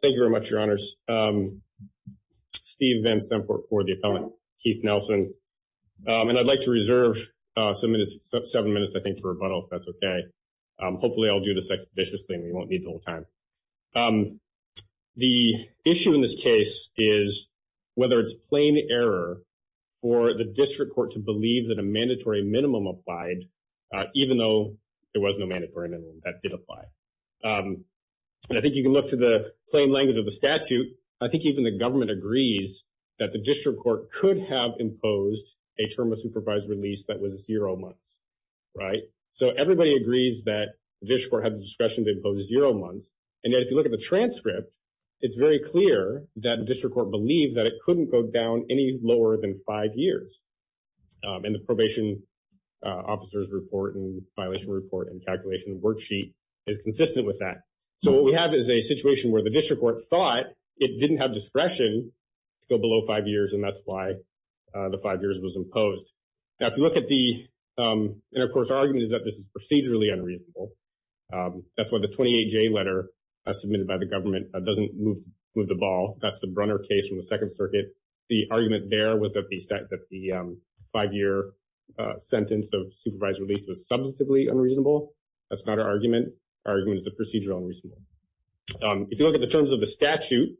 Thank you very much, your honors. Steve Van Stempert for the appellant, Keith Nelson, and I'd like to reserve seven minutes, I think, for rebuttal, if that's okay. Hopefully, I'll do this expeditiously and we won't need the whole time. The issue in this case is whether it's plain error for the district court to believe that a mandatory minimum applied, even though there was no mandatory minimum that did apply. And I think you can look to the plain language of the statute. I think even the government agrees that the district court could have imposed a term of supervised release that was zero months, right? So everybody agrees that the district court had the discretion to impose zero months, and yet if you look at the transcript, it's very clear that the district court believed that it couldn't go down any lower than five years. And the probation officer's report and violation report and calculation worksheet is consistent with that. So what we have is a situation where the district court thought it didn't have discretion to go below five years, and that's why the five years was imposed. Now, if you look at the – and, of course, our argument is that this is procedurally unreasonable. That's why the 28J letter submitted by the government doesn't move the ball. That's the Brunner case from the Second Circuit. The argument there was that the five-year sentence of supervised release was substantively unreasonable. That's not our argument. Our argument is the procedural unreasonable. If you look at the terms of the statute,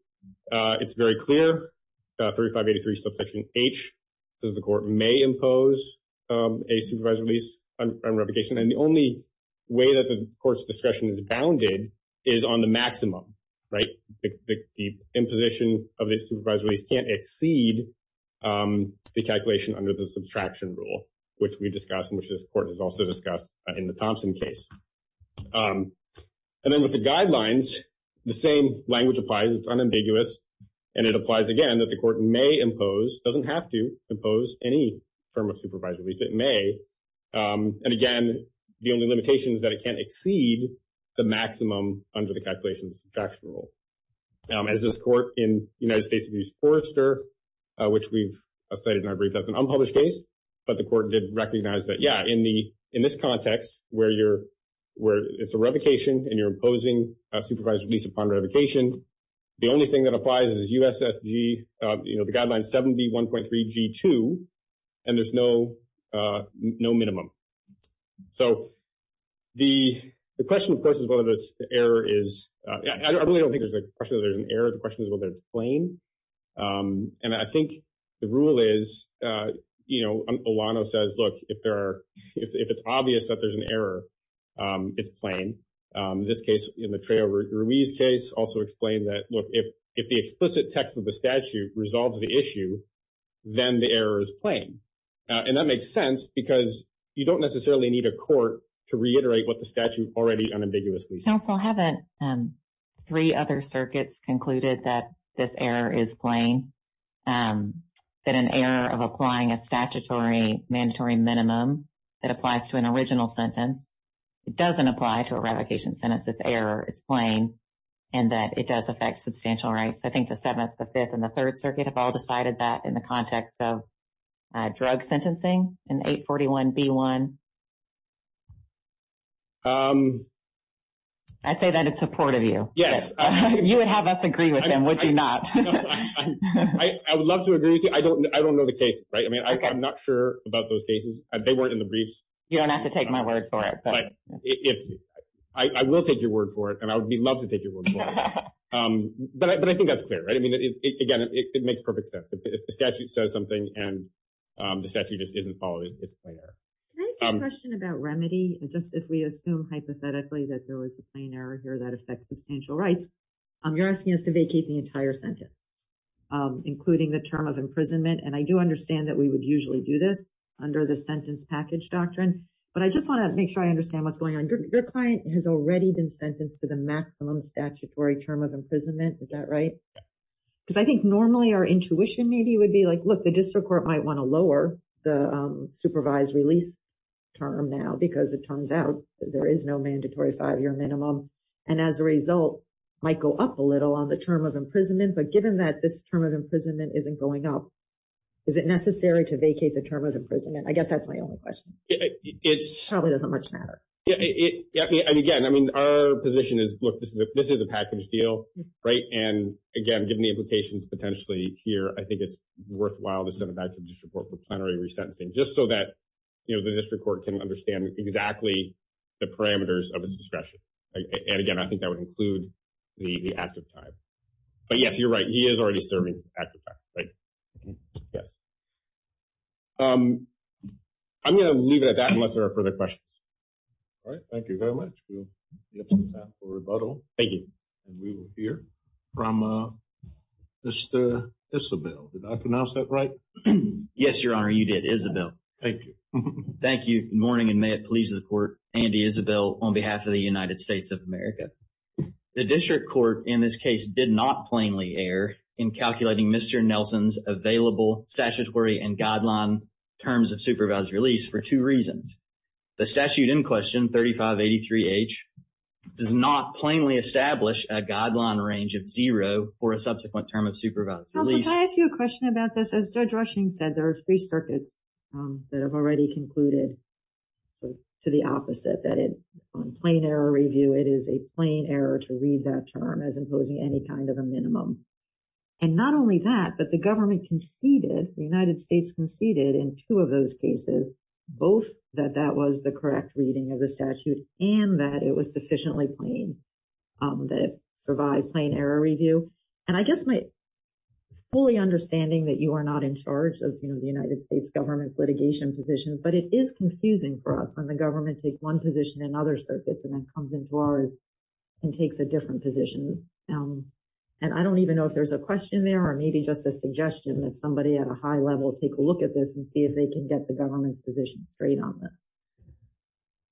it's very clear, 3583, subsection H, says the court may impose a supervised release on revocation, and the only way that the court's discretion is bounded is on the maximum, right? The imposition of a supervised release can't exceed the calculation under the subtraction rule, which we discussed and which this court has also discussed in the Thompson case. And then with the guidelines, the same language applies. It's unambiguous. And it applies, again, that the court may impose – doesn't have to impose any form of supervised release, but may. And, again, the only limitation is that it can't exceed the maximum under the calculation of the subtraction rule. As this court in United States v. Forrester, which we've cited in our brief as an unpublished case, but the court did recognize that, yeah, in this context where it's a revocation and you're imposing a supervised release upon revocation, the only thing that applies is U.S.S.G., the guideline 7B.1.3.G.2, and there's no minimum. So the question, of course, is whether this error is – I really don't think there's a question that there's an error. The question is whether it's plain. And I think the rule is, you know, Olano says, look, if there are – if it's obvious that there's an error, it's plain. In this case, in the Trejo Ruiz case, also explained that, look, if the explicit text of the statute resolves the issue, then the error is plain. And that makes sense because you don't necessarily need a court to reiterate what the statute already unambiguously says. Counsel, haven't three other circuits concluded that this error is plain, that an error of applying a statutory mandatory minimum that applies to an original sentence, it doesn't apply to a revocation sentence, it's error, it's plain, and that it does affect substantial rights? I think the Seventh, the Fifth, and the Third Circuit have all decided that in the context of drug sentencing in 841B.1. I say that in support of you. Yes. You would have us agree with him, would you not? I would love to agree with you. I don't know the case, right? I mean, I'm not sure about those cases. They weren't in the briefs. You don't have to take my word for it. I will take your word for it, and I would love to take your word for it. But I think that's clear, right? I mean, again, it makes perfect sense. If the statute says something and the statute just isn't followed, it's a plain error. Can I ask you a question about remedy? Just if we assume hypothetically that there was a plain error here that affects substantial rights, you're asking us to vacate the entire sentence, including the term of imprisonment. And I do understand that we would usually do this under the sentence package doctrine, but I just want to make sure I understand what's going on. Your client has already been sentenced to the maximum statutory term of imprisonment. Is that right? Because I think normally our intuition maybe would be like, look, the district court might want to lower the supervised release term now because it turns out there is no mandatory five-year minimum. And as a result, it might go up a little on the term of imprisonment. But given that this term of imprisonment isn't going up, is it necessary to vacate the term of imprisonment? I guess that's my only question. It probably doesn't much matter. And again, I mean, our position is, look, this is a package deal, right? And again, given the implications potentially here, I think it's worthwhile to send it back to the district court for plenary resentencing just so that the district court can understand exactly the parameters of its discretion. And again, I think that would include the active time. But yes, you're right. He is already serving active time. Yes. I'm going to leave it at that unless there are further questions. All right. Thank you very much. We have some time for rebuttal. Thank you. And we will hear from Mr. Isabel. Did I pronounce that right? Yes, Your Honor, you did. Isabel. Thank you. Thank you. Good morning and may it please the court. Andy Isabel on behalf of the United States of America. The district court in this case did not plainly err in calculating Mr. Nelson's available statutory and guideline terms of supervised release for two reasons. The statute in question, 3583H, does not plainly establish a guideline range of zero for a subsequent term of supervised release. Counselor, can I ask you a question about this? As Judge Rushing said, there are three circuits that have already concluded to the opposite, that it on plain error review, it is a plain error to read that term as imposing any kind of a minimum. And not only that, but the government conceded, the United States conceded in two of those cases, both that that was the correct reading of the statute and that it was sufficiently plain that it survived plain error review. And I guess my fully understanding that you are not in charge of the United States government's litigation position, but it is confusing for us when the government takes one position in other circuits and then comes into ours and takes a different position. And I don't even know if there's a question there or maybe just a suggestion that somebody at a high level take a look at this and see if they can get the government's position straight on this.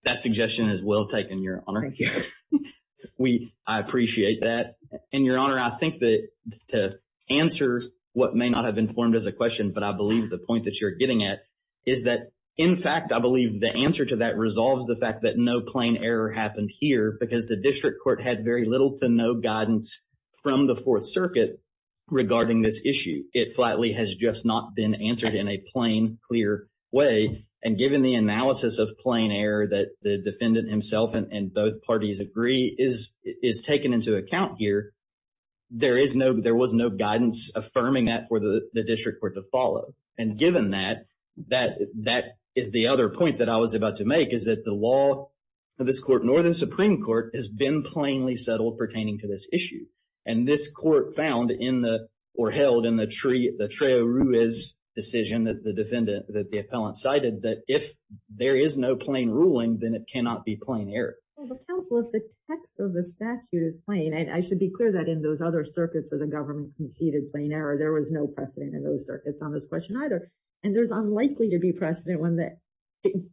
That suggestion is well taken, Your Honor. Thank you. I appreciate that. And, Your Honor, I think that to answer what may not have been formed as a question, but I believe the point that you're getting at is that, in fact, I believe the answer to that resolves the fact that no plain error happened here because the district court had very little to no guidance from the Fourth Circuit regarding this issue. It flatly has just not been answered in a plain, clear way. And given the analysis of plain error that the defendant himself and both parties agree is taken into account here, there was no guidance affirming that for the district court to follow. And given that, that is the other point that I was about to make is that the law of this court, Northern Supreme Court, has been plainly settled pertaining to this issue. And this court found in the – or held in the Trejo Ruiz decision that the defendant – that the appellant cited that if there is no plain ruling, then it cannot be plain error. Well, but, counsel, if the text of the statute is plain – and I should be clear that in those other circuits where the government conceded plain error, there was no precedent in those circuits on this question either. And there's unlikely to be precedent when the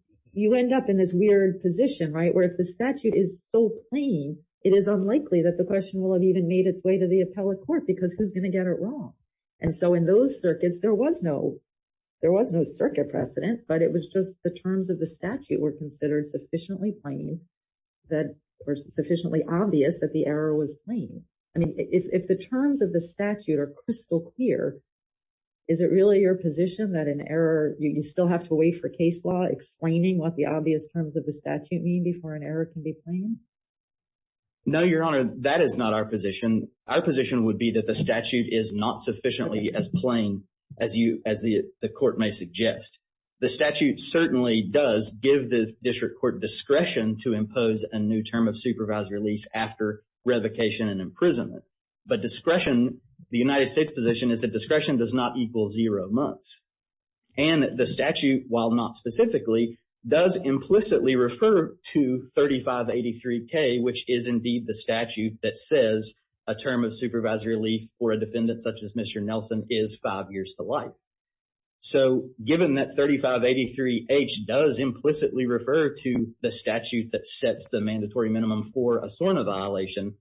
– you end up in this weird position, right, where if the statute is so plain, it is unlikely that the question will have even made its way to the appellate court because who's going to get it wrong? And so in those circuits, there was no – there was no circuit precedent, but it was just the terms of the statute were considered sufficiently plain that – or sufficiently obvious that the error was plain. I mean, if the terms of the statute are crystal clear, is it really your position that an error – you still have to wait for case law explaining what the obvious terms of the statute mean before an error can be plain? No, Your Honor, that is not our position. Our position would be that the statute is not sufficiently as plain as the court may suggest. The statute certainly does give the district court discretion to impose a new term of supervised release after revocation and imprisonment. But discretion – the United States position is that discretion does not equal zero months. And the statute, while not specifically, does implicitly refer to 3583K, which is indeed the statute that says a term of supervised relief for a defendant such as Mr. Nelson is five years to life. So given that 3583H does implicitly refer to the statute that sets the mandatory minimum for a SORNA violation,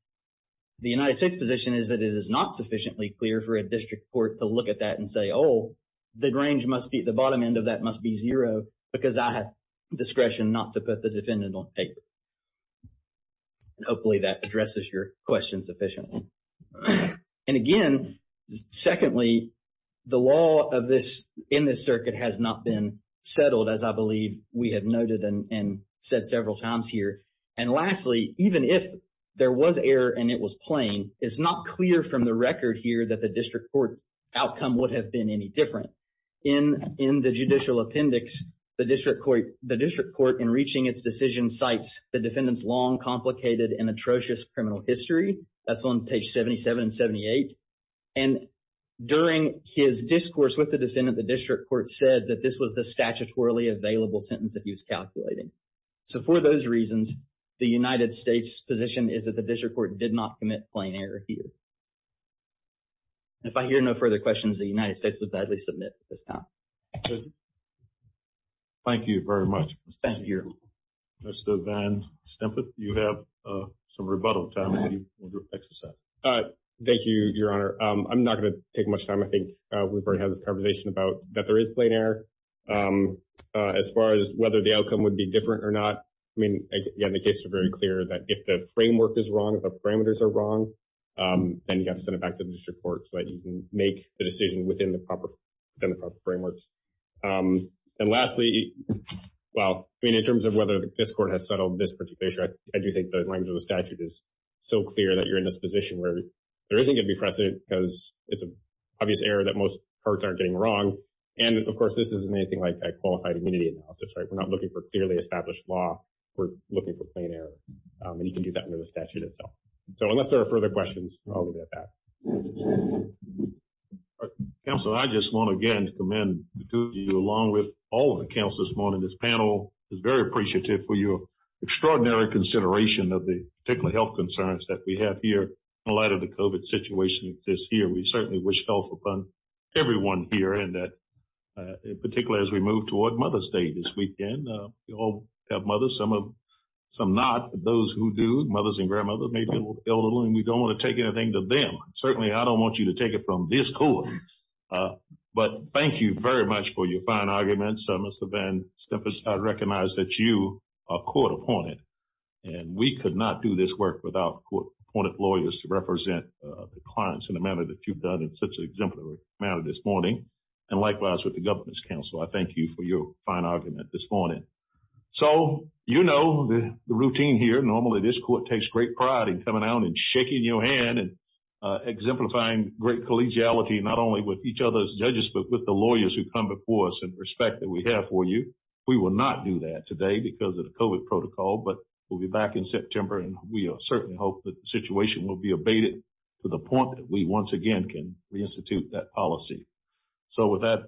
the United States position is that it is not sufficiently clear for a district court to look at that and say, oh, the range must be – the bottom end of that must be zero because I have discretion not to put the defendant on paper. Hopefully, that addresses your question sufficiently. And again, secondly, the law of this – in this circuit has not been settled, as I believe we have noted and said several times here. And lastly, even if there was error and it was plain, it's not clear from the record here that the district court outcome would have been any different. In the judicial appendix, the district court in reaching its decision cites the defendant's long, complicated, and atrocious criminal history. That's on page 77 and 78. And during his discourse with the defendant, the district court said that this was the statutorily available sentence that he was calculating. So for those reasons, the United States position is that the district court did not commit plain error here. If I hear no further questions, the United States would gladly submit at this time. Thank you very much. Mr. Van Stempet, you have some rebuttal time. Thank you, Your Honor. I'm not going to take much time. I think we've already had this conversation about that there is plain error. As far as whether the outcome would be different or not, I mean, again, the case is very clear that if the framework is wrong, if the parameters are wrong, then you have to send it back to the district court so that you can make the decision within the proper frameworks. And lastly, well, I mean, in terms of whether this court has settled this particular issue, I do think the language of the statute is so clear that you're in this position where there isn't going to be precedent because it's an obvious error that most courts aren't getting wrong. And of course, this isn't anything like a qualified immunity analysis, right? We're not looking for clearly established law. We're looking for plain error. And you can do that under the statute itself. So unless there are further questions, I'll leave it at that. Counselor, I just want to again commend you along with all of the counselors this morning. This panel is very appreciative for your extraordinary consideration of the particular health concerns that we have here in light of the COVID situation that exists here. We certainly wish health upon everyone here and that, in particular, as we move toward Mother's Day this weekend, we all have mothers, some not, but those who do, mothers and grandmothers, may feel a little, and we don't want to take anything to them. Certainly, I don't want you to take it from this court. But thank you very much for your fine arguments. I recognize that you are court-appointed, and we could not do this work without court-appointed lawyers to represent the clients in a manner that you've done in such an exemplary manner this morning. And likewise with the government's counsel, I thank you for your fine argument this morning. So you know the routine here. Normally, this court takes great pride in coming out and shaking your hand and exemplifying great collegiality, not only with each other's judges, but with the lawyers who come before us and respect that we have for you. We will not do that today because of the COVID protocol, but we'll be back in September, and we certainly hope that the situation will be abated to the point that we once again can re-institute that policy. So with that,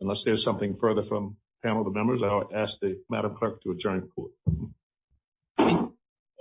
unless there's something further from the panel of members, I'll ask Madam Clerk to adjourn the court. This court is adjourned.